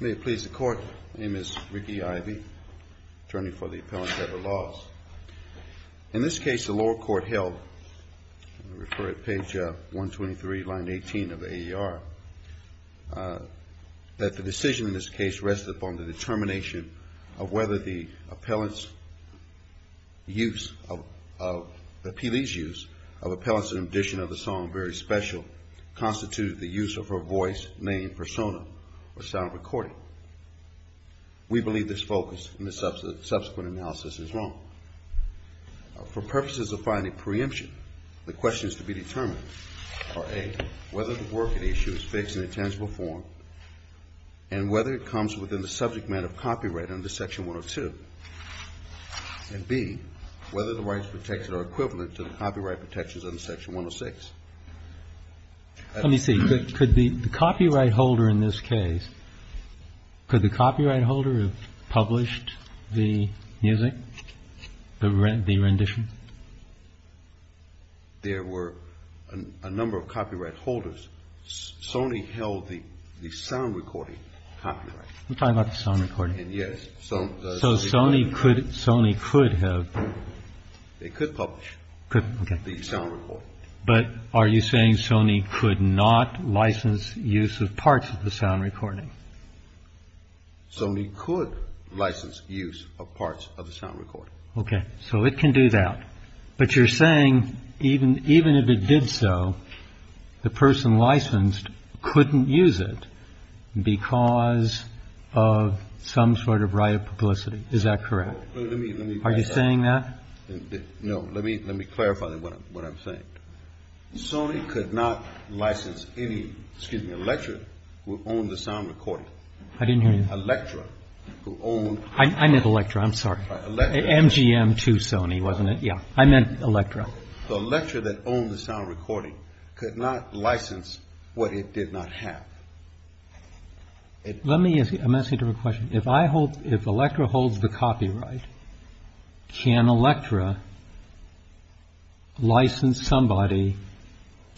May it please the Court, my name is Ricky Ivey, attorney for the Appellant at the Laws. In this case the lower court held, I refer at page 123, line 18 of the AER, that the decision in this case rests upon the determination of whether the appealee's use of Appellants in addition to the song Very Special constituted the use of her voice, name, persona, or sound recording. We believe this focus in the subsequent analysis is wrong. For purposes of finding preemption, the questions to be determined are a. whether the work at issue is fixed in intangible form, and whether it comes within the subject matter of copyright under section 102, and b. whether the rights protected are equivalent to the copyright protections under section 106. Let me see, could the copyright holder in this case, could the copyright holder have published the music, the rendition? There were a number of copyright holders. Sony held the sound recording copyright. I'm talking about the sound recording. Yes. So Sony could have. They could publish the sound recording. But are you saying Sony could not license use of parts of the sound recording? Sony could license use of parts of the sound recording. Okay. So it can do that. But you're saying even if it did so, the person licensed couldn't use it because of some sort of right of publicity. Is that correct? Are you saying that? No. Let me clarify what I'm saying. Sony could not license any, excuse me, a lecturer who owned the sound recording. I didn't hear you. A lecturer who owned. I meant a lecturer, I'm sorry. MGM to Sony, wasn't it? Yeah, I meant Electra. The lecturer that owned the sound recording could not license what it did not have. Let me ask you a question. If I hope if Electra holds the copyright. Can Electra license somebody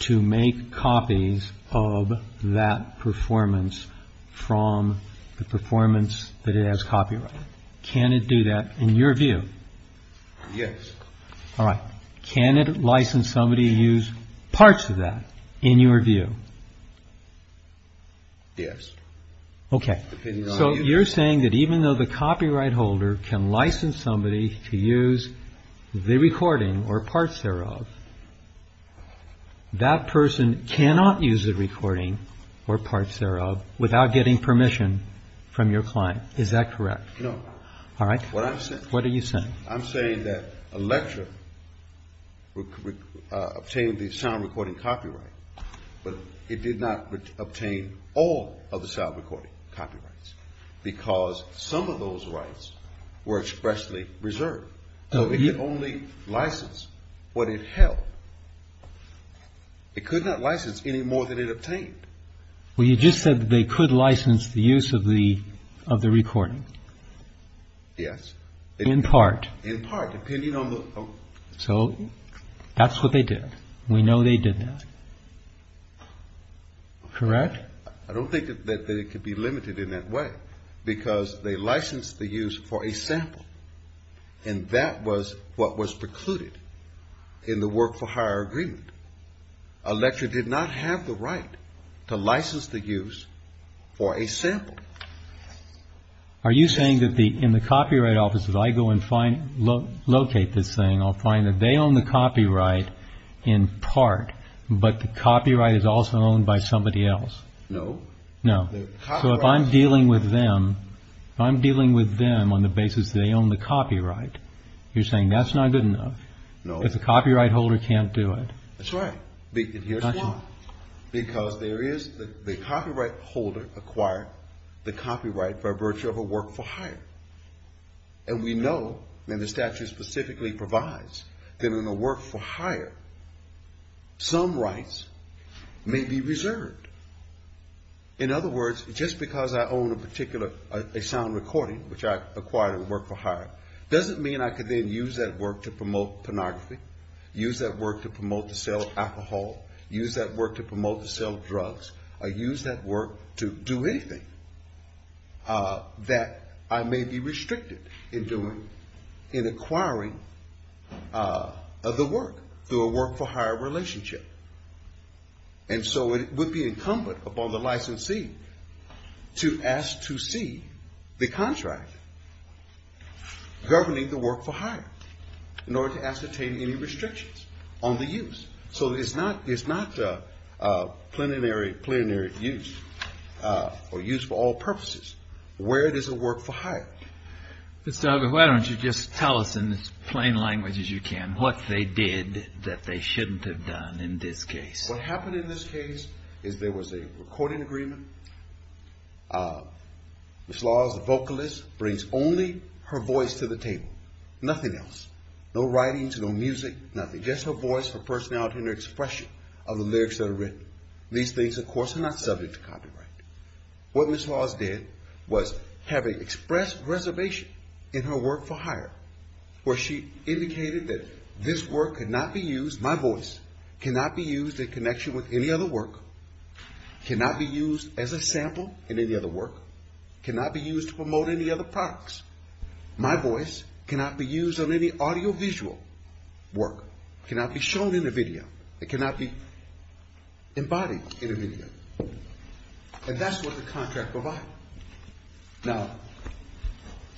to make copies of that performance from the performance that it has copyright? Can it do that in your view? Yes. All right. Can it license somebody use parts of that in your view? Yes. Okay. So you're saying that even though the copyright holder can license somebody to use the recording or parts thereof. That person cannot use the recording or parts thereof without getting permission from your client. Is that correct? No. All right. What I'm saying. What are you saying? I'm saying that Electra obtained the sound recording copyright. But it did not obtain all of the sound recording copyrights. Because some of those rights were expressly reserved. So it could only license what it held. It could not license any more than it obtained. Well, you just said that they could license the use of the recording. Yes. In part. In part, depending on the. So that's what they did. We know they did that. Correct? I don't think that it could be limited in that way. Because they licensed the use for a sample. And that was what was precluded in the work for hire agreement. Electra did not have the right to license the use for a sample. Are you saying that the in the copyright offices, I go and find locate this thing. I'll find that they own the copyright in part. But the copyright is also owned by somebody else. No, no. So if I'm dealing with them, I'm dealing with them on the basis they own the copyright. You're saying that's not good enough. If the copyright holder can't do it. That's right. And here's why. Because there is the copyright holder acquired the copyright by virtue of a work for hire. And we know, and the statute specifically provides, that in a work for hire, some rights may be reserved. In other words, just because I own a particular, a sound recording, which I acquired in a work for hire, doesn't mean I can then use that work to promote pornography, use that work to promote the sale of alcohol, use that work to promote the sale of drugs, or use that work to do anything that I may be restricted in doing, in acquiring the work through a work for hire relationship. And so it would be incumbent upon the licensee to ask to see the contract governing the work for hire, in order to ascertain any restrictions on the use. So it's not a plenary use, or use for all purposes, where it is a work for hire. Mr. Huggins, why don't you just tell us in as plain language as you can, what they did that they shouldn't have done in this case. What happened in this case is there was a recording agreement. Ms. Laws, the vocalist, brings only her voice to the table. Nothing else. No writings, no music, nothing. Just her voice, her personality, and her expression of the lyrics that are written. These things, of course, are not subject to copyright. What Ms. Laws did was have an express reservation in her work for hire, where she indicated that this work cannot be used, my voice cannot be used in connection with any other work, cannot be used as a sample in any other work, cannot be used to promote any other products. My voice cannot be used on any audiovisual work, cannot be shown in a video. It cannot be embodied in a video. And that's what the contract provided. Now,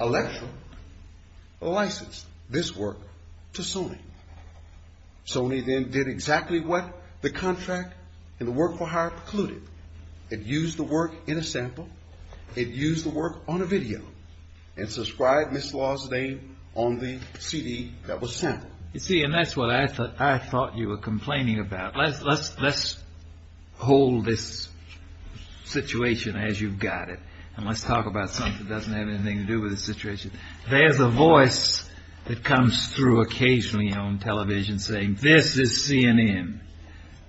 Electra licensed this work to Sony. Sony then did exactly what the contract in the work for hire precluded. It used the work in a sample. It used the work on a video and subscribed Ms. Laws' name on the CD that was sampled. You see, and that's what I thought you were complaining about. Let's hold this situation as you've got it, and let's talk about something that doesn't have anything to do with the situation. There's a voice that comes through occasionally on television saying, this is CNN.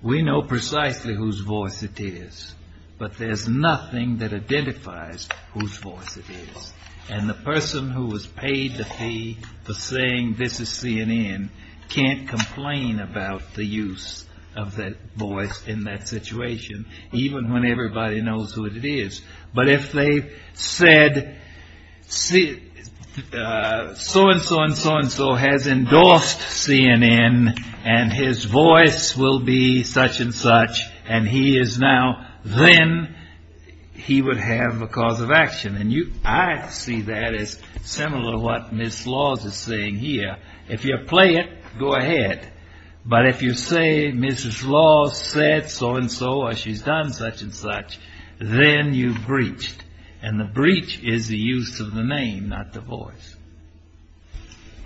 We know precisely whose voice it is, but there's nothing that identifies whose voice it is. And the person who was paid the fee for saying, this is CNN, can't complain about the use of that voice in that situation, even when everybody knows who it is. But if they said, so-and-so and so-and-so has endorsed CNN, and his voice will be such and such, and he is now, then he would have a cause of action. And I see that as similar to what Ms. Laws is saying here. If you're playing, go ahead. But if you say, Mrs. Laws said so-and-so or she's done such and such, then you've breached. And the breach is the use of the name, not the voice.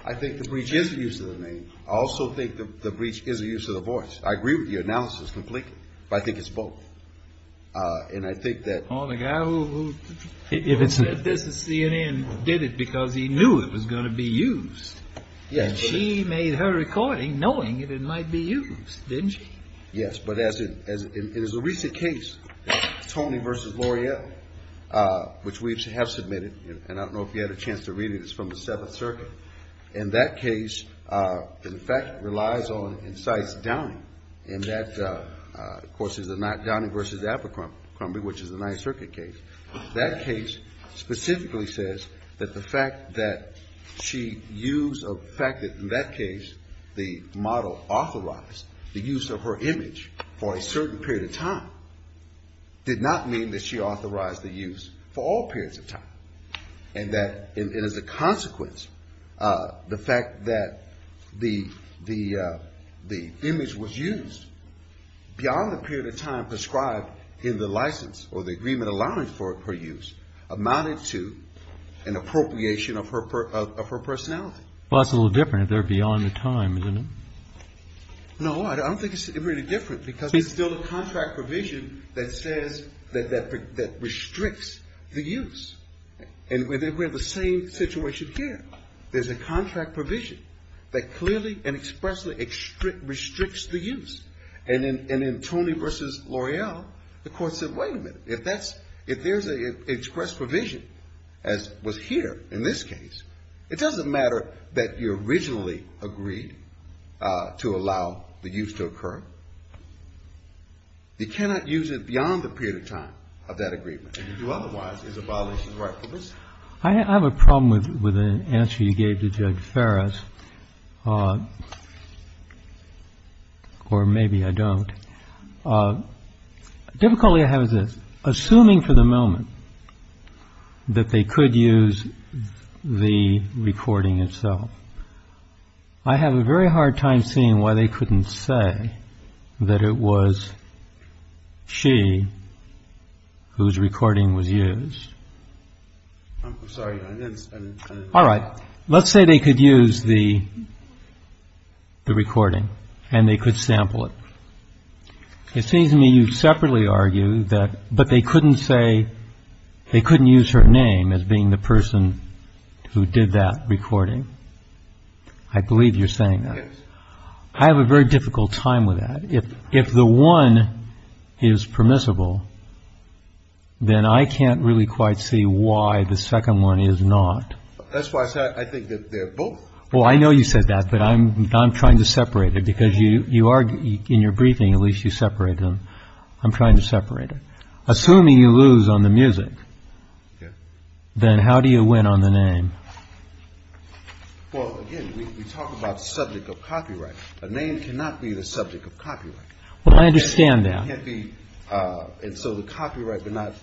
I think the breach is the use of the name. I also think the breach is the use of the voice. I agree with your analysis completely, but I think it's both. And I think that- Oh, the guy who, if it said, this is CNN, did it because he knew it was going to be used. Yes. And she made her recording knowing that it might be used, didn't she? Yes, but as in the recent case, Tony versus L'Oreal, which we have submitted, and I don't know if you had a chance to read it, it's from the Seventh Circuit. And that case, in fact, relies on and cites Downey. And that, of course, is a Downey versus Abercrombie, which is a Ninth Circuit case. That case specifically says that the fact that she used a fact that, in that case, the model authorized the use of her image for a certain period of time, did not mean that she authorized the use for all periods of time. And that, as a consequence, the fact that the image was used beyond the period of time prescribed in the license or the agreement allowing for her use amounted to an appropriation of her personality. Well, that's a little different. They're beyond the time, isn't it? No, I don't think it's really different because it's still a contract provision that says, that restricts the use. And we're in the same situation here. There's a contract provision that clearly and expressly restricts the use. And in Tony versus L'Oreal, the court said, wait a minute, if there's an express provision, as was here in this case, it doesn't matter that you originally agreed to allow the use to occur. You cannot use it beyond the period of time of that agreement. If you do otherwise, it's a violation of the right to pursue. I have a problem with the answer you gave to Judge Ferris, or maybe I don't. Difficulty I have is this. Assuming for the moment that they could use the recording itself, I have a very hard time seeing why they couldn't say that it was she whose recording was used. I'm sorry. All right. Let's say they could use the recording and they could sample it. It seems to me you separately argue that, but they couldn't say, they couldn't use her name as being the person who did that recording. I believe you're saying that. Yes. I have a very difficult time with that. If the one is permissible, then I can't really quite see why the second one is not. That's why I said I think they're both. Well, I know you said that, but I'm trying to separate it because you are in your briefing. At least you separate them. I'm trying to separate it. Assuming you lose on the music, then how do you win on the name? Well, again, we talk about the subject of copyright. A name cannot be the subject of copyright. Well, I understand that. It can't be. And so the copyright would not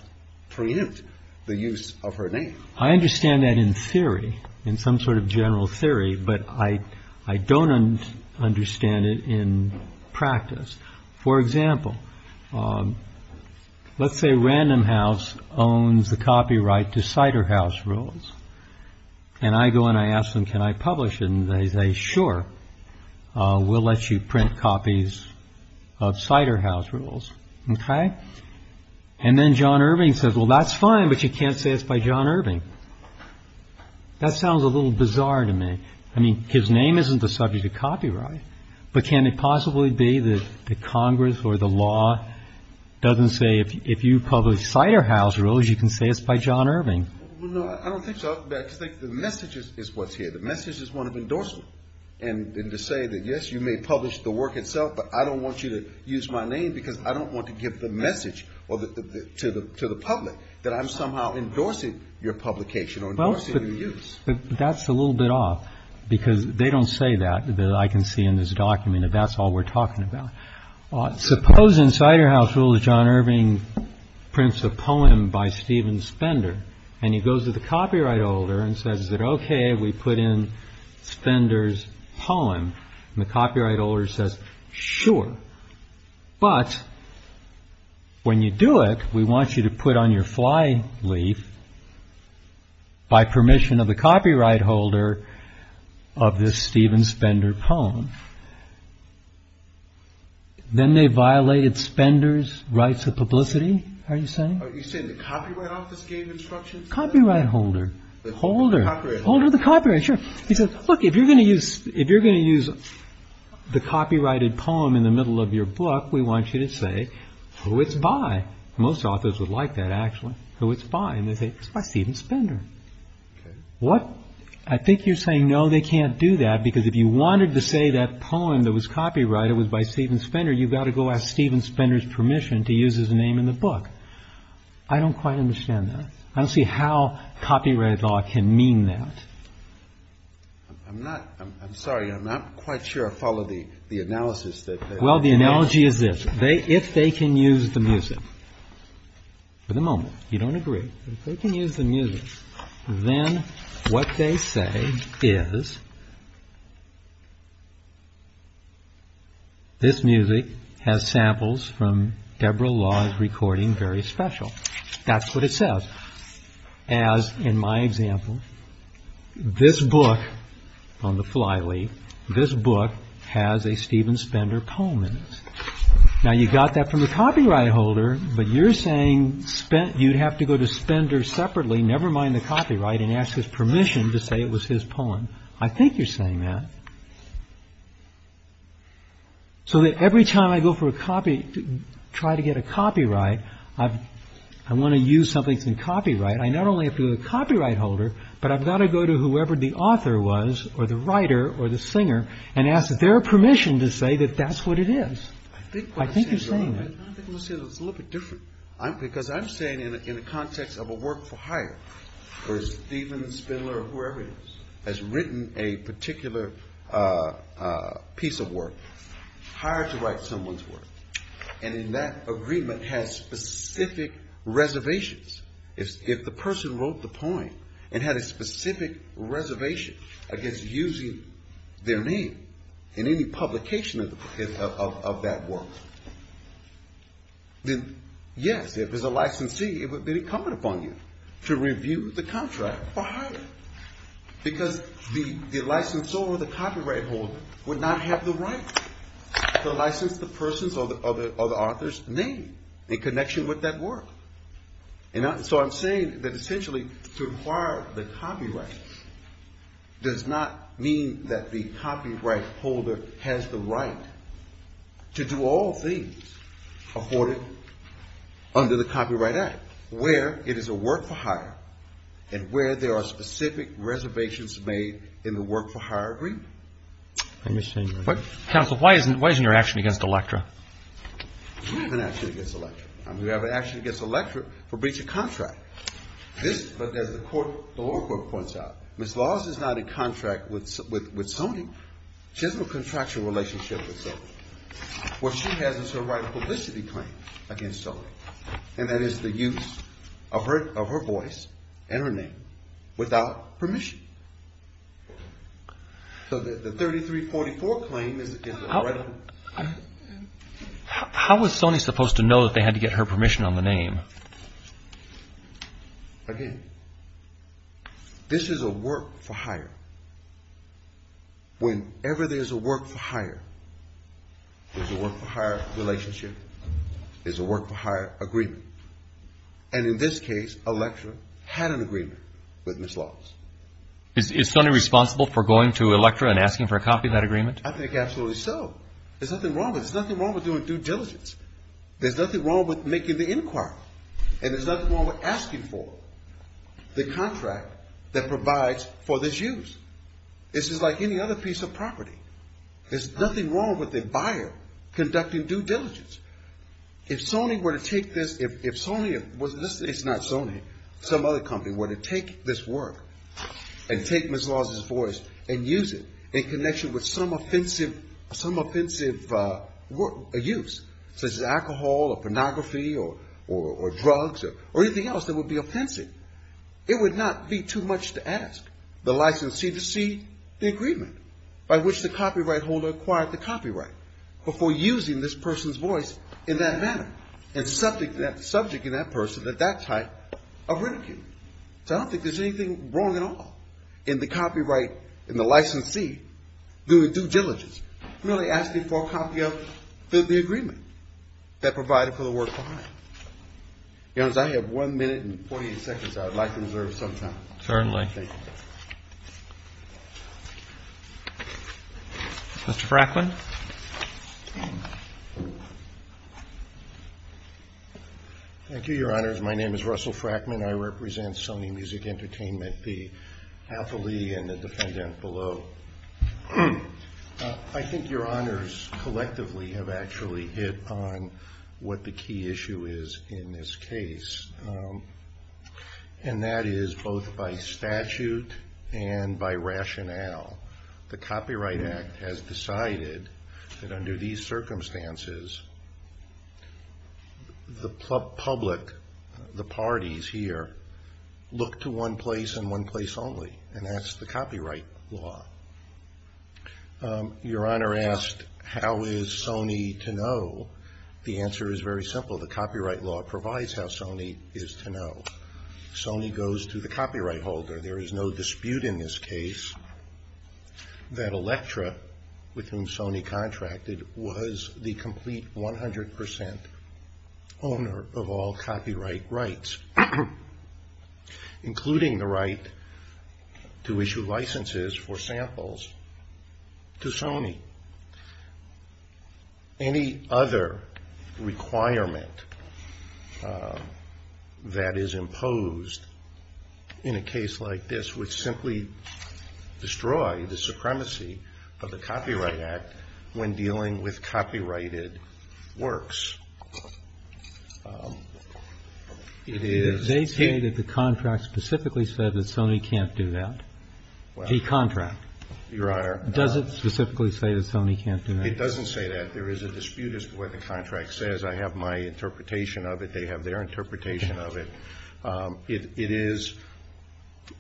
preempt the use of her name. I understand that in theory, in some sort of general theory, but I, I don't understand it in practice. For example, let's say Random House owns the copyright to Cider House Rules. And I go and I ask them, can I publish it? And they say, sure, we'll let you print copies of Cider House Rules. And then John Irving says, well, that's fine, but you can't say it's by John Irving. That sounds a little bizarre to me. I mean, his name isn't the subject of copyright. But can it possibly be that the Congress or the law doesn't say if you publish Cider House Rules, you can say it's by John Irving? I don't think so. I think the message is what's here. The message is one of endorsement and to say that, yes, you may publish the work itself, but I don't want you to use my name because I don't want to give the message to the public that I'm somehow endorsing your publication or endorsing your use. That's a little bit off because they don't say that. I can see in this document that that's all we're talking about. Suppose in Cider House Rules, John Irving prints a poem by Stephen Spender and he goes to the copyright holder and says that, OK, we put in Spender's poem. And the copyright holder says, sure. But when you do it, we want you to put on your fly leaf. By permission of the copyright holder of this Stephen Spender poem. Then they violated Spender's rights of publicity, are you saying? Are you saying the copyright office gave instructions? Copyright holder. Holder. Holder of the copyright, sure. He says, look, if you're going to use the copyrighted poem in the middle of your book, we want you to say who it's by. Most authors would like that, actually. Who it's by. And they say, it's by Stephen Spender. What? I think you're saying, no, they can't do that, because if you wanted to say that poem that was copyrighted, it was by Stephen Spender. You've got to go ask Stephen Spender's permission to use his name in the book. I don't quite understand that. I don't see how copyright law can mean that. I'm not I'm sorry. I'm not quite sure. Follow the analysis that. Well, the analogy is this. They if they can use the music. For the moment, you don't agree. They can use the music. Then what they say is. This music has samples from Deborah Law's recording. Very special. That's what it says. As in my example, this book on the fly. Lee, this book has a Stephen Spender poem in it. Now, you got that from the copyright holder, but you're saying spent. You'd have to go to Spender separately, never mind the copyright, and ask his permission to say it was his poem. I think you're saying that. So that every time I go for a copy, try to get a copyright, I want to use something in copyright. I not only have a copyright holder, but I've got to go to whoever the author was or the writer or the singer and ask their permission to say that that's what it is. I think you're saying it's a little bit different. I'm because I'm saying in the context of a work for hire or Stephen Spindler, whoever has written a particular piece of work, hired to write someone's work. And in that agreement has specific reservations. If the person wrote the poem and had a specific reservation against using their name in any publication of that work, then yes, if it was a licensee, it would be incumbent upon you to review the contract for hire. Because the licensor or the copyright holder would not have the right to license the person's or the author's name in connection with that work. So I'm saying that essentially to acquire the copyright does not mean that the copyright holder has the right to do all things afforded under the Copyright Act. Where it is a work for hire and where there are specific reservations made in the work for hire agreement. Why isn't your action against Electra? We have an action against Electra. We have an action against Electra for breach of contract. But as the court, the lower court points out, Ms. Laws is not in contract with Sony. She has no contractual relationship with Sony. What she has is her right of publicity claim against Sony. And that is the use of her voice and her name without permission. So the 3344 claim is the right of publicity. How was Sony supposed to know that they had to get her permission on the name? Again, this is a work for hire. Whenever there's a work for hire, there's a work for hire relationship. There's a work for hire agreement. And in this case, Electra had an agreement with Ms. Laws. Is Sony responsible for going to Electra and asking for a copy of that agreement? I think absolutely so. There's nothing wrong with it. There's nothing wrong with doing due diligence. There's nothing wrong with making the inquiry. And there's nothing wrong with asking for the contract that provides for this use. This is like any other piece of property. There's nothing wrong with the buyer conducting due diligence. If Sony were to take this, if Sony, it's not Sony, some other company were to take this work and take Ms. Laws' voice and use it in connection with some offensive use, such as alcohol or pornography or drugs or anything else that would be offensive, it would not be too much to ask the licensee to see the agreement by which the copyright holder acquired the copyright before using this person's voice in that manner and subjecting that person to that type of ridicule. So I don't think there's anything wrong at all in the copyright, in the licensee doing due diligence, merely asking for a copy of the agreement that provided for the work behind it. If I have one minute and 48 seconds, I would like to reserve some time. Certainly. Thank you. Mr. Fracklin. Thank you, Your Honors. My name is Russell Fracklin. I represent Sony Music Entertainment, the Alpha Lee and the defendant below. I think Your Honors, collectively, have actually hit on what the key issue is in this case, and that is both by statute and by rationale. The Copyright Act has decided that under these circumstances, the public, the parties here, look to one place and one place only, and that's the copyright law. Your Honor asked, how is Sony to know? The answer is very simple. The copyright law provides how Sony is to know. Sony goes to the copyright holder. There is no dispute in this case that Elektra, with whom Sony contracted, was the complete 100% owner of all copyright rights, including the right to issue licenses for samples to Sony. Any other requirement that is imposed in a case like this would simply destroy the supremacy of the Copyright Act when dealing with copyrighted works. They say that the contract specifically said that Sony can't do that, the contract. Your Honor. Does it specifically say that Sony can't do that? It doesn't say that. There is a dispute as to what the contract says. I have my interpretation of it. They have their interpretation of it. It is,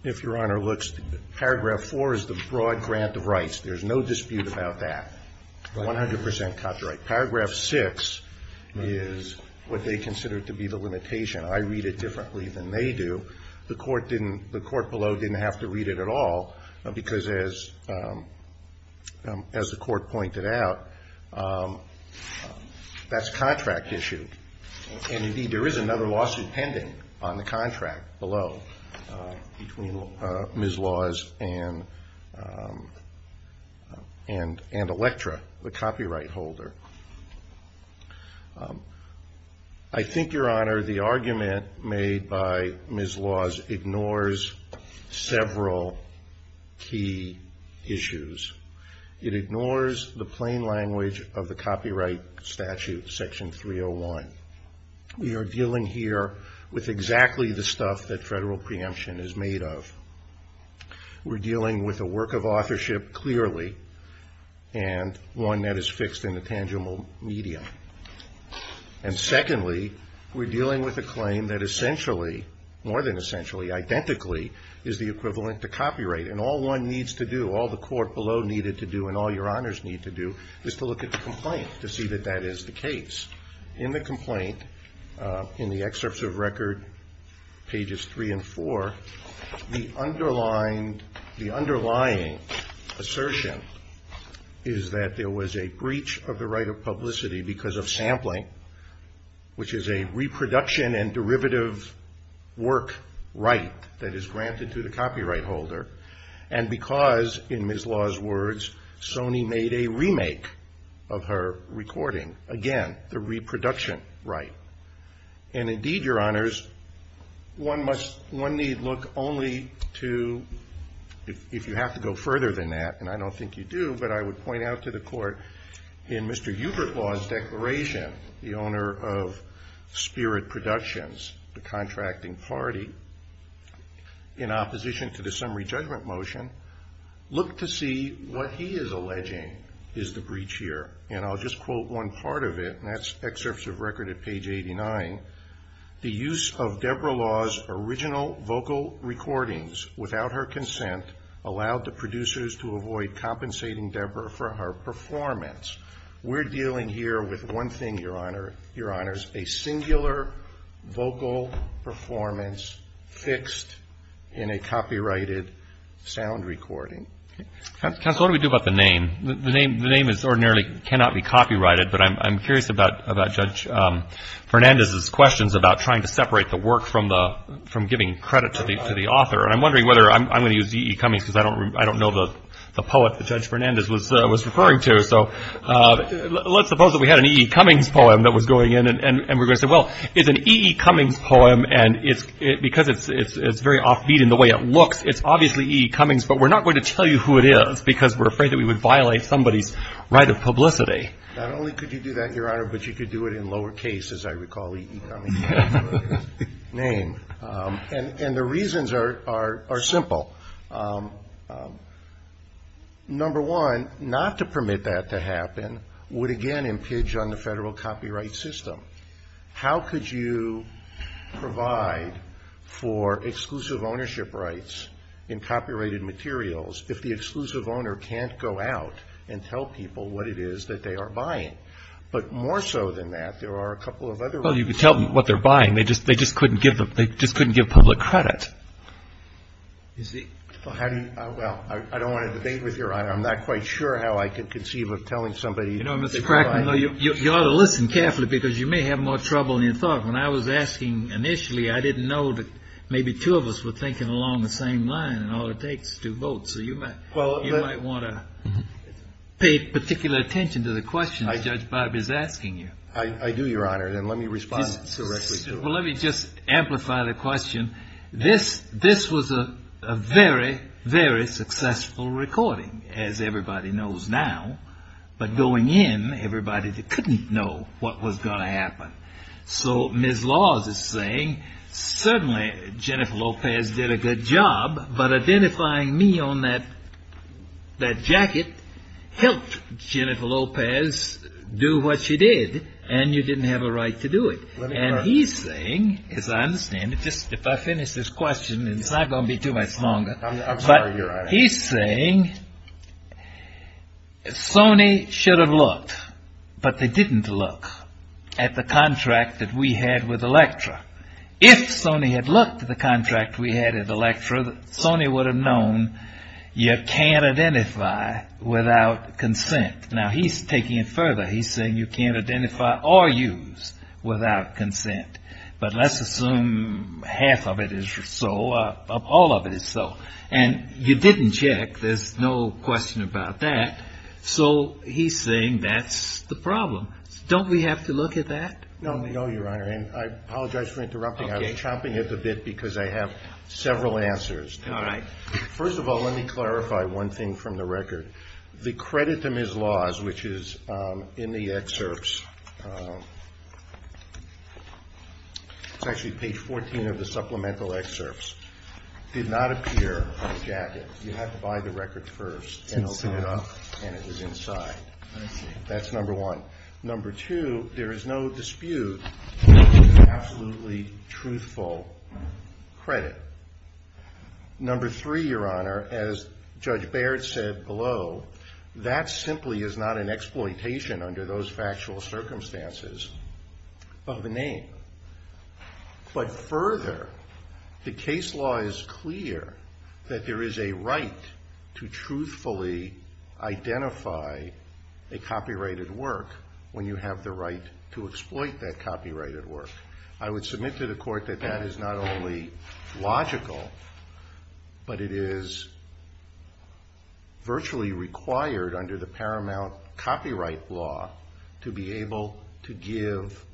if Your Honor looks, paragraph 4 is the broad grant of rights. There is no dispute about that, 100% copyright. Paragraph 6 is what they consider to be the limitation. I read it differently than they do. The court below didn't have to read it at all because, as the court pointed out, that's contract issue. Indeed, there is another lawsuit pending on the contract below between Ms. Laws and Elektra, the copyright holder. I think, Your Honor, the argument made by Ms. Laws ignores several key issues. It ignores the plain language of the Copyright Statute, Section 301. We are dealing here with exactly the stuff that federal preemption is made of. We're dealing with a work of authorship, clearly, and one that is fixed in a tangible medium. And secondly, we're dealing with a claim that essentially, more than essentially, identically, is the equivalent to copyright. And all one needs to do, all the court below needed to do, and all Your Honors need to do, is to look at the complaint to see that that is the case. In the complaint, in the excerpts of record, pages 3 and 4, the underlying assertion is that there was a breach of the right of publicity because of sampling, which is a reproduction and derivative work right that is granted to the copyright holder, and because, in Ms. Laws' words, Sony made a remake of her recording. Again, the reproduction right. And indeed, Your Honors, one must, one need look only to, if you have to go further than that, and I don't think you do, but I would point out to the court, in Mr. Hubert Law's declaration, the owner of Spirit Productions, the contracting party, in opposition to the summary judgment motion, looked to see what he is alleging is the breach here. And I'll just quote one part of it, and that's excerpts of record at page 89. The use of Deborah Law's original vocal recordings without her consent allowed the producers to avoid compensating Deborah for her performance. We're dealing here with one thing, Your Honors, a singular vocal performance fixed in a copyrighted sound recording. Counsel, what do we do about the name? The name ordinarily cannot be copyrighted, but I'm curious about Judge Fernandez's questions about trying to separate the work from giving credit to the author. And I'm wondering whether I'm going to use E.E. Cummings because I don't know the poet that Judge Fernandez was referring to. So let's suppose that we had an E.E. Cummings poem that was going in, and we're going to say, well, it's an E.E. Cummings poem, and because it's very offbeat in the way it looks, it's obviously E.E. Cummings. But we're not going to tell you who it is because we're afraid that we would violate somebody's right of publicity. Not only could you do that, Your Honor, but you could do it in lowercase, as I recall E.E. Cummings being the name. And the reasons are simple. Number one, not to permit that to happen would, again, impinge on the federal copyright system. How could you provide for exclusive ownership rights in copyrighted materials if the exclusive owner can't go out and tell people what it is that they are buying? But more so than that, there are a couple of other reasons. Well, you could tell them what they're buying. They just couldn't give public credit. Well, I don't want to debate with you, Your Honor. I'm not quite sure how I could conceive of telling somebody that they're buying. You know, Mr. Crackman, you ought to listen carefully because you may have more trouble than you thought. When I was asking initially, I didn't know that maybe two of us were thinking along the same line in all it takes to vote. So you might want to pay particular attention to the question that Judge Barb is asking you. I do, Your Honor. And let me respond directly to it. Well, let me just amplify the question. This was a very, very successful recording, as everybody knows now. But going in, everybody couldn't know what was going to happen. So Ms. Laws is saying, certainly Jennifer Lopez did a good job. But identifying me on that jacket helped Jennifer Lopez do what she did. And you didn't have a right to do it. And he's saying, as I understand it, just if I finish this question, it's not going to be too much longer. I'm sorry, Your Honor. But he's saying Sony should have looked, but they didn't look at the contract that we had with Electra. If Sony had looked at the contract we had at Electra, Sony would have known you can't identify without consent. Now, he's taking it further. He's saying you can't identify or use without consent. But let's assume half of it is so, all of it is so. And you didn't check. There's no question about that. So he's saying that's the problem. Don't we have to look at that? No, Your Honor. And I apologize for interrupting. I was chomping at the bit because I have several answers. All right. First of all, let me clarify one thing from the record. The credit to Ms. Laws, which is in the excerpts, it's actually page 14 of the supplemental excerpts, did not appear on the jacket. You had to buy the record first and open it up, and it was inside. I see. That's number one. Number two, there is no dispute that this is absolutely truthful credit. Number three, Your Honor, as Judge Baird said below, that simply is not an exploitation under those factual circumstances of the name. But further, the case law is clear that there is a right to truthfully identify a copyrighted work when you have the right to exploit that copyrighted work. I would submit to the Court that that is not only logical, but it is virtually required under the paramount copyright law to be able to give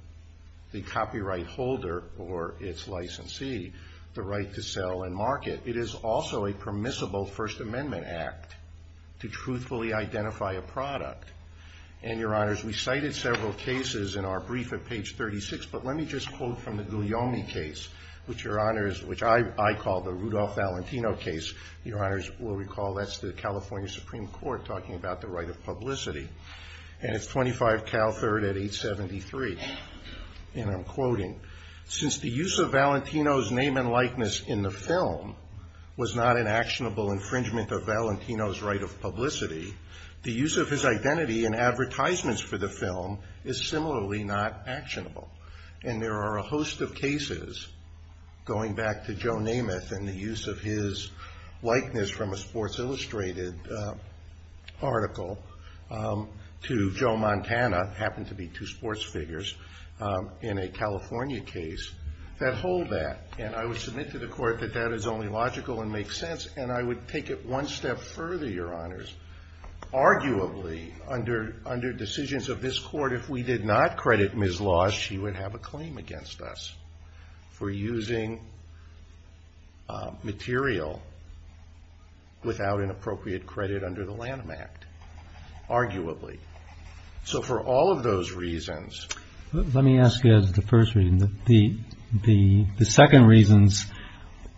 the copyright holder or its licensee the right to sell and market. It is also a permissible First Amendment act to truthfully identify a product. And, Your Honors, we cited several cases in our brief at page 36, but let me just quote from the Guglielmi case, which I call the Rudolph Valentino case. Your Honors will recall that's the California Supreme Court talking about the right of publicity. And it's 25 Cal 3rd at 873. And I'm quoting, since the use of Valentino's name and likeness in the film was not an actionable infringement of Valentino's right of publicity, the use of his identity in advertisements for the film is similarly not actionable. And there are a host of cases, going back to Joe Namath and the use of his likeness from a Sports Illustrated article to Joe Montana, happened to be two sports figures in a California case, that hold that. And I would submit to the Court that that is only logical and makes sense. And I would take it one step further, Your Honors. Arguably, under decisions of this Court, if we did not credit Ms. Laws, she would have a claim against us, for using material without an appropriate credit under the Lanham Act. Arguably. So for all of those reasons. Let me ask you the first reason. The second reasons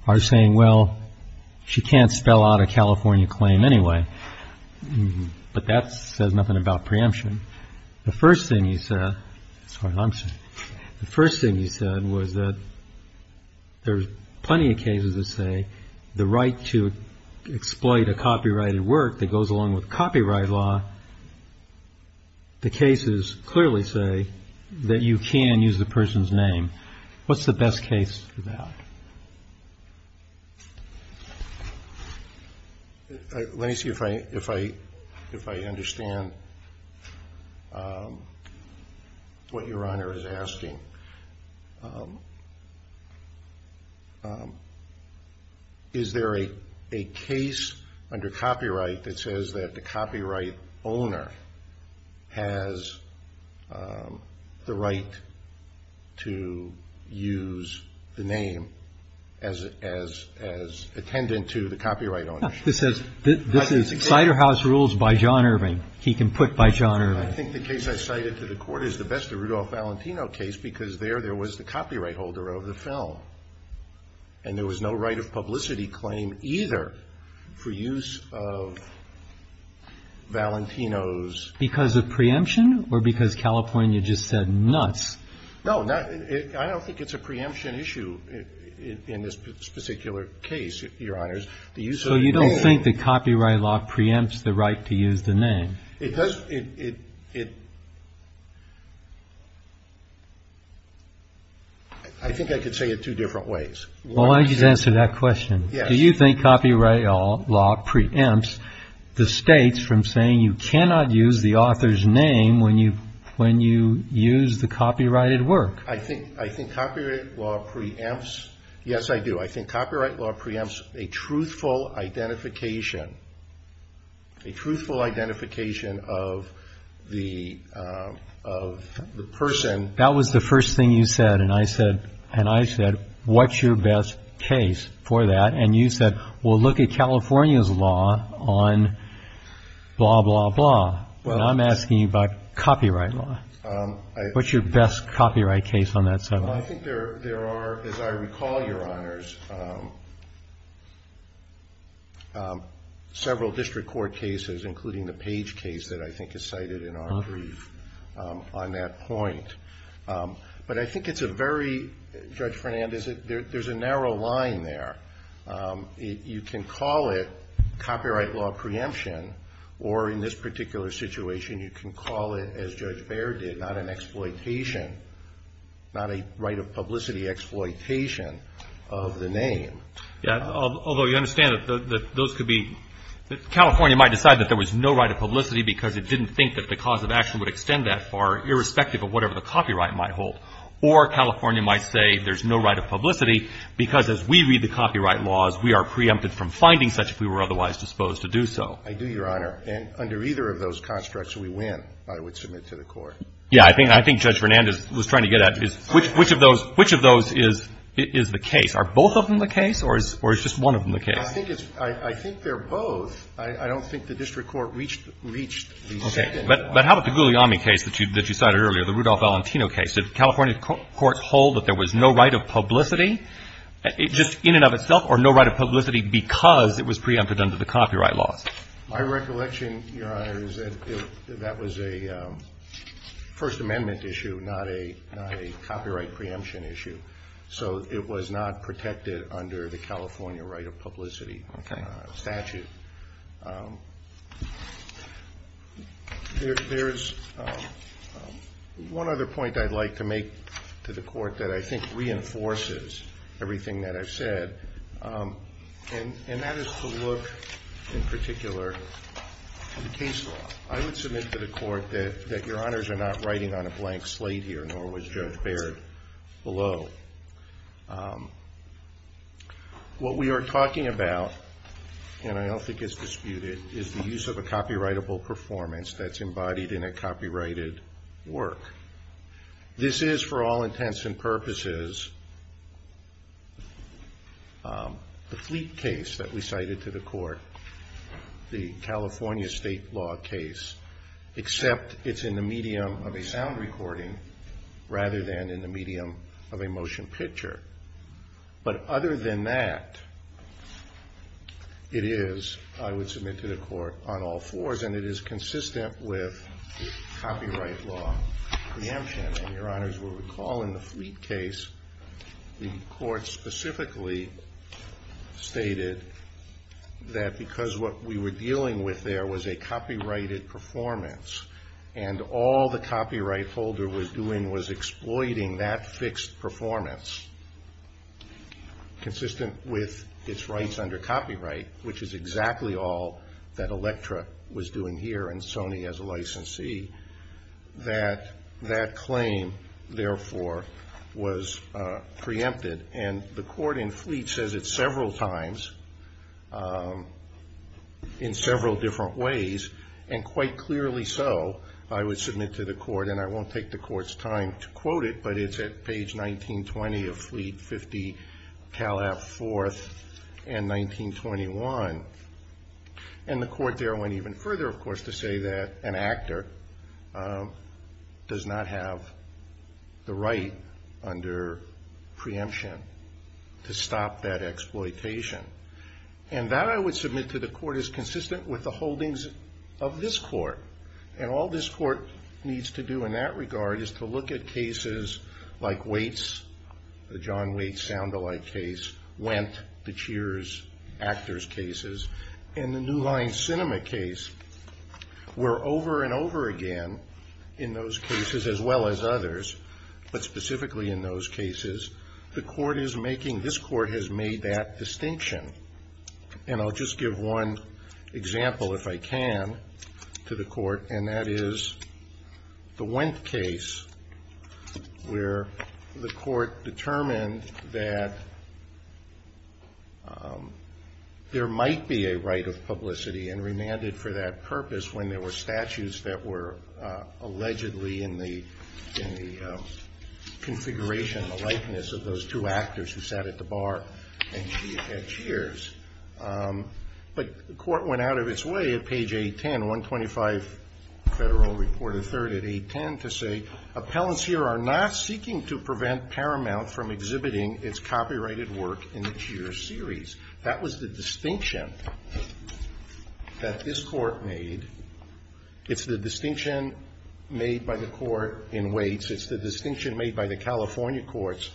are saying, well, she can't spell out a California claim anyway. But that says nothing about preemption. The first thing you said, I'm sorry, I'm sorry. The first thing you said was that there's plenty of cases that say the right to exploit a copyrighted work that goes along with copyright law. The cases clearly say that you can use the person's name. What's the best case for that? Let me see if I understand what Your Honor is asking. Is there a case under copyright that says that the copyright owner has the right to use the name as attendant to the copyright owner? This is Cider House Rules by John Irving. He can put by John Irving. I think the case I cited to the Court is the best of Rudolph Valentino case because there, there was the copyright holder of the film. And there was no right of publicity claim either for use of Valentino's. Because of preemption or because California just said nuts? No, I don't think it's a preemption issue in this particular case, Your Honors. So you don't think that copyright law preempts the right to use the name? I think I could say it two different ways. Well, why don't you just answer that question? Do you think copyright law preempts the states from saying you cannot use the author's name when you use the copyrighted work? I think copyright law preempts, yes I do. I think copyright law preempts a truthful identification, a truthful identification of the person. That was the first thing you said. And I said, what's your best case for that? And you said, well, look at California's law on blah, blah, blah. And I'm asking you about copyright law. What's your best copyright case on that subject? Well, I think there are, as I recall, Your Honors, several district court cases, including the Page case that I think is cited in our brief on that point. But I think it's a very, Judge Fernandez, there's a narrow line there. You can call it copyright law preemption, or in this particular situation, you can call it, as Judge Baird did, not an exploitation, not a right of publicity exploitation of the name. Yeah. Although you understand that those could be, California might decide that there was no right of publicity because it didn't think that the cause of action would extend that far, irrespective of whatever the copyright might hold. Or California might say there's no right of publicity because as we read the copyright laws, we are preempted from finding such if we were otherwise disposed to do so. I do, Your Honor. And under either of those constructs, we win, I would submit to the Court. Yeah. I think Judge Fernandez was trying to get at which of those is the case. Are both of them the case, or is just one of them the case? I think they're both. I don't think the district court reached the second one. Okay. But how about the Guglielmi case that you cited earlier, the Rudolph Valentino case? Did California courts hold that there was no right of publicity, just in and of itself, or no right of publicity because it was preempted under the copyright laws? My recollection, Your Honor, is that that was a First Amendment issue, not a copyright preemption issue. So it was not protected under the California right of publicity statute. Okay. There's one other point I'd like to make to the Court that I think reinforces everything that I've said, and that is to look, in particular, at the case law. I would submit to the Court that Your Honors are not writing on a blank slate here, nor was Judge Baird below. What we are talking about, and I don't think it's disputed, is the use of a copyrightable performance that's embodied in a copyrighted work. This is, for all intents and purposes, the Fleet case that we cited to the Court, the California state law case, except it's in the medium of a sound recording, rather than in the medium of a motion picture. But other than that, it is, I would submit to the Court, on all fours, and it is consistent with copyright law preemption. And Your Honors will recall in the Fleet case, the Court specifically stated that because what we were dealing with there was a copyrighted performance, and all the copyright holder was doing was exploiting that fixed performance, consistent with its rights under copyright, which is exactly all that Electra was doing here, and Sony as a licensee, that that claim, therefore, was preempted. And the Court in Fleet says it several times, in several different ways, and quite clearly so, I would submit to the Court, and I won't take the Court's time to quote it, but it's at page 1920 of Fleet 50, Calaf 4th, and 1921. And the Court there went even further, of course, to say that an actor does not have the right under preemption to stop that exploitation. And that, I would submit to the Court, is consistent with the holdings of this Court. And all this Court needs to do in that regard is to look at cases like Waits, the John Waits sound-alike case, Wendt, the Cheers actors' cases, and the New Line Cinema case, where over and over again, in those cases as well as others, but specifically in those cases, the Court is making, this Court has made that distinction. And I'll just give one example, if I can, to the Court, and that is the Wendt case where the Court determined that there might be a right of publicity and remanded for that purpose when there were statutes that were allegedly in the configuration, in the likeness of those two actors who sat at the bar at Cheers. But the Court went out of its way at page 810, 125 Federal Reporter 3rd at 810, to say, Appellants here are not seeking to prevent Paramount from exhibiting its copyrighted work in the Cheers series. That was the distinction that this Court made. It's the distinction made by the Court in Waits. It's the distinction made by the California courts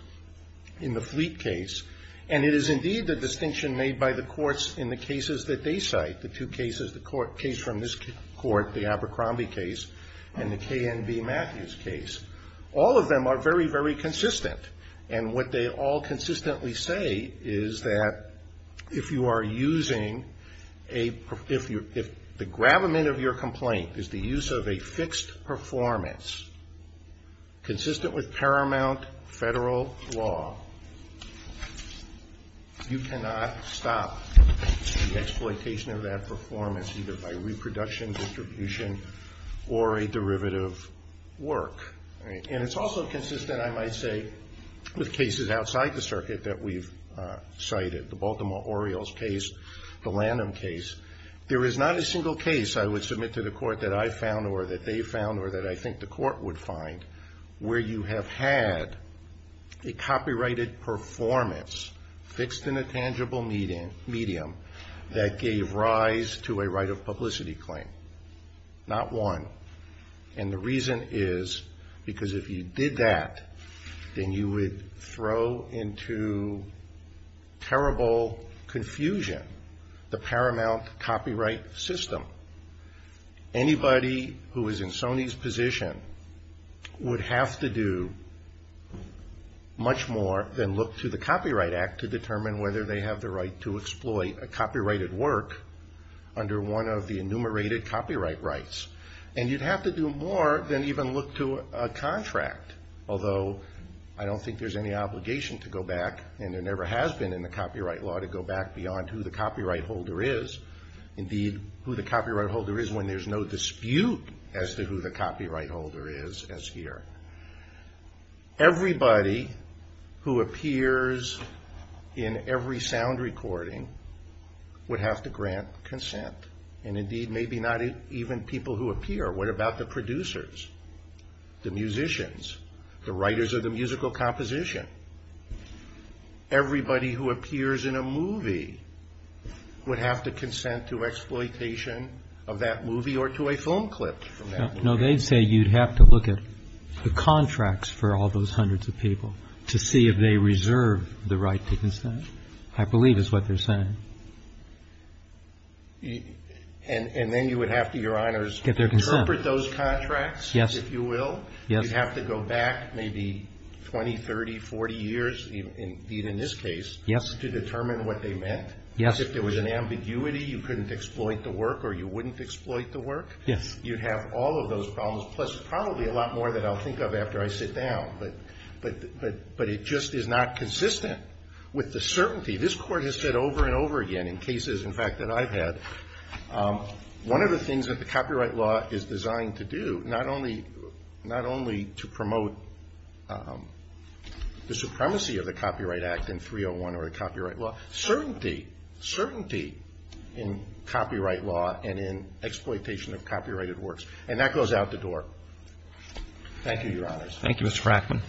in the Fleet case. And it is indeed the distinction made by the courts in the cases that they cite, the two cases, the case from this Court, the Abercrombie case, and the KNB Matthews case. All of them are very, very consistent. And what they all consistently say is that if you are using a, if the gravamen of your complaint is the use of a fixed performance, consistent with Paramount federal law, you cannot stop the exploitation of that performance, either by reproduction, distribution, or a derivative work. And it's also consistent, I might say, with cases outside the circuit that we've cited, the Baltimore Orioles case, the Lanham case. There is not a single case I would submit to the Court that I found or that they found or that I think the Court would find where you have had a copyrighted performance fixed in a tangible medium that gave rise to a right of publicity claim. Not one. And the reason is because if you did that, then you would throw into terrible confusion the Paramount copyright system. Anybody who is in Sony's position would have to do much more than look to the Copyright Act to determine whether they have the right to exploit a copyrighted work under one of the enumerated copyright rights. And you'd have to do more than even look to a contract, although I don't think there's any obligation to go back, and there never has been in the copyright law, to go back beyond who the copyright holder is. Indeed, who the copyright holder is when there's no dispute as to who the copyright holder is as here. Everybody who appears in every sound recording would have to grant consent. And indeed, maybe not even people who appear. What about the producers, the musicians, the writers of the musical composition? Everybody who appears in a movie would have to consent to exploitation of that movie or to a film clip from that movie. No, they'd say you'd have to look at the contracts for all those hundreds of people to see if they reserve the right to consent, I believe is what they're saying. And then you would have to, Your Honors, interpret those contracts, if you will. You'd have to go back maybe 20, 30, 40 years, indeed in this case, to determine what they meant. If there was an ambiguity, you couldn't exploit the work or you wouldn't exploit the work. You'd have all of those problems, plus probably a lot more that I'll think of after I sit down. But it just is not consistent with the certainty. This Court has said over and over again in cases, in fact, that I've had, one of the things that the copyright law is designed to do, not only to promote the supremacy of the Copyright Act in 301 or the copyright law, certainty, certainty in copyright law and in exploitation of copyrighted works. And that goes out the door. Thank you, Your Honors. Thank you, Mr. Frackman.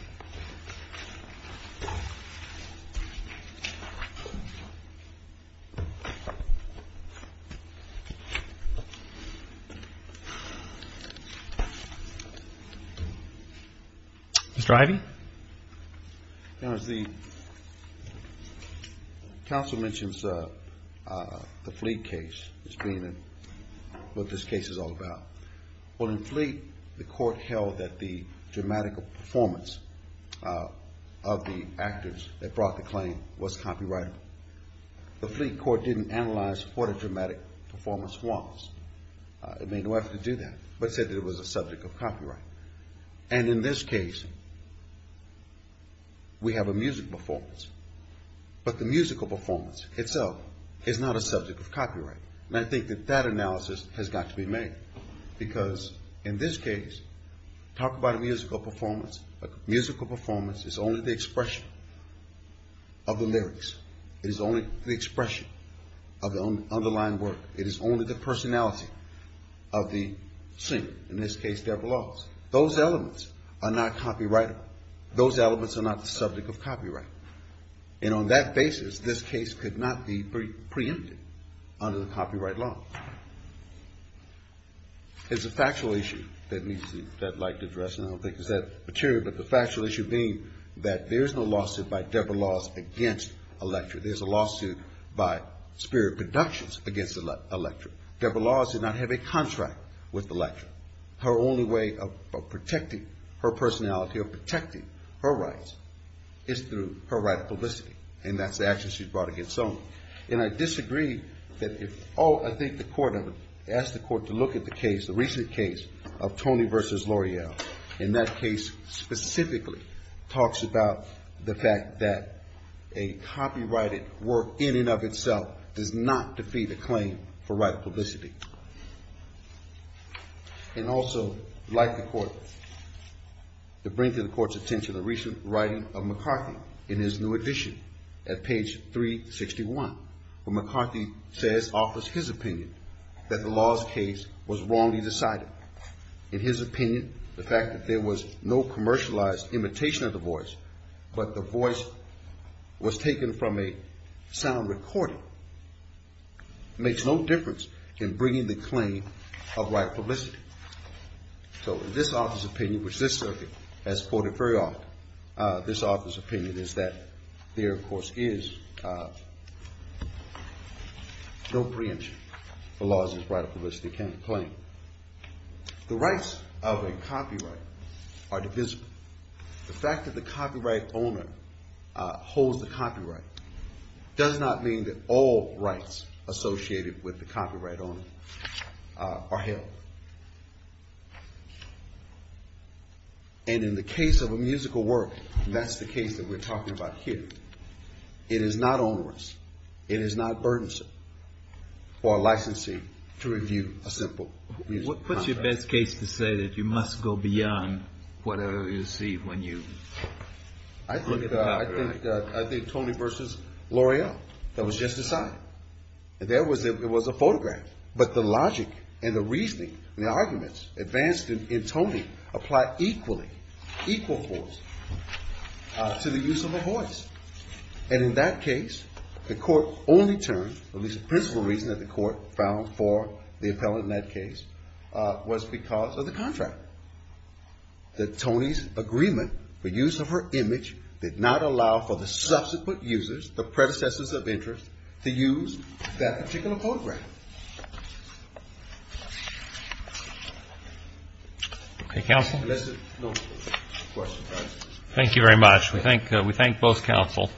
Mr. Ivey? Your Honors, the counsel mentions the Fleet case as being what this case is all about. Well, in Fleet, the Court held that the dramatic performance of the actors that brought the claim was copyrightable. The Fleet Court didn't analyze what a dramatic performance was. It made no effort to do that, but it said that it was a subject of copyright. And in this case, we have a music performance, And I think that that analysis has got to be made. Because in this case, talk about a musical performance. A musical performance is only the expression of the lyrics. It is only the expression of the underlying work. It is only the personality of the singer, in this case, Debra Laws. Those elements are not copyrightable. Those elements are not the subject of copyright. And on that basis, this case could not be preempted under the copyright law. It's a factual issue that I'd like to address, and I don't think it's that material, but the factual issue being that there's no lawsuit by Debra Laws against a lecturer. There's a lawsuit by Spirit Productions against a lecturer. Debra Laws did not have a contract with the lecturer. Her only way of protecting her personality or protecting her rights is through her right to publicity. And that's the action she brought against Sony. And I disagree that if, oh, I think the court asked the court to look at the case, the recent case of Tony versus L'Oreal. And that case specifically talks about the fact that a copyrighted work, in and of itself, does not defeat a claim for right to publicity. And also, like the court, to bring to the court's attention the recent writing of McCarthy in his new edition at page 361, where McCarthy says, offers his opinion, that the law's case was wrongly decided. In his opinion, the fact that there was no commercialized imitation of the voice, but the voice was taken from a sound recording, makes no difference in bringing the claim of right to publicity. So in this author's opinion, which this circuit has quoted very often, this author's opinion is that there, of course, is no preemption for laws as right of publicity can claim. The rights of a copyright are divisible. Does not mean that all rights associated with the copyright owner are held. And in the case of a musical work, that's the case that we're talking about here, it is not onerous, it is not burdensome for a licensee to review a simple musical contract. What's your best case to say that you must go beyond whatever you receive when you look at the copyright? I think Tony versus L'Oreal, that was just decided. It was a photograph. But the logic and the reasoning and the arguments advanced in Tony apply equally, equal force to the use of a voice. And in that case, the court only turned, at least the principal reason that the court found for the appellant in that case, was because of the contract. That Tony's agreement for use of her image did not allow for the subsequent users, the predecessors of interest, to use that particular photograph. Okay, counsel. Thank you very much. We thank both counsel.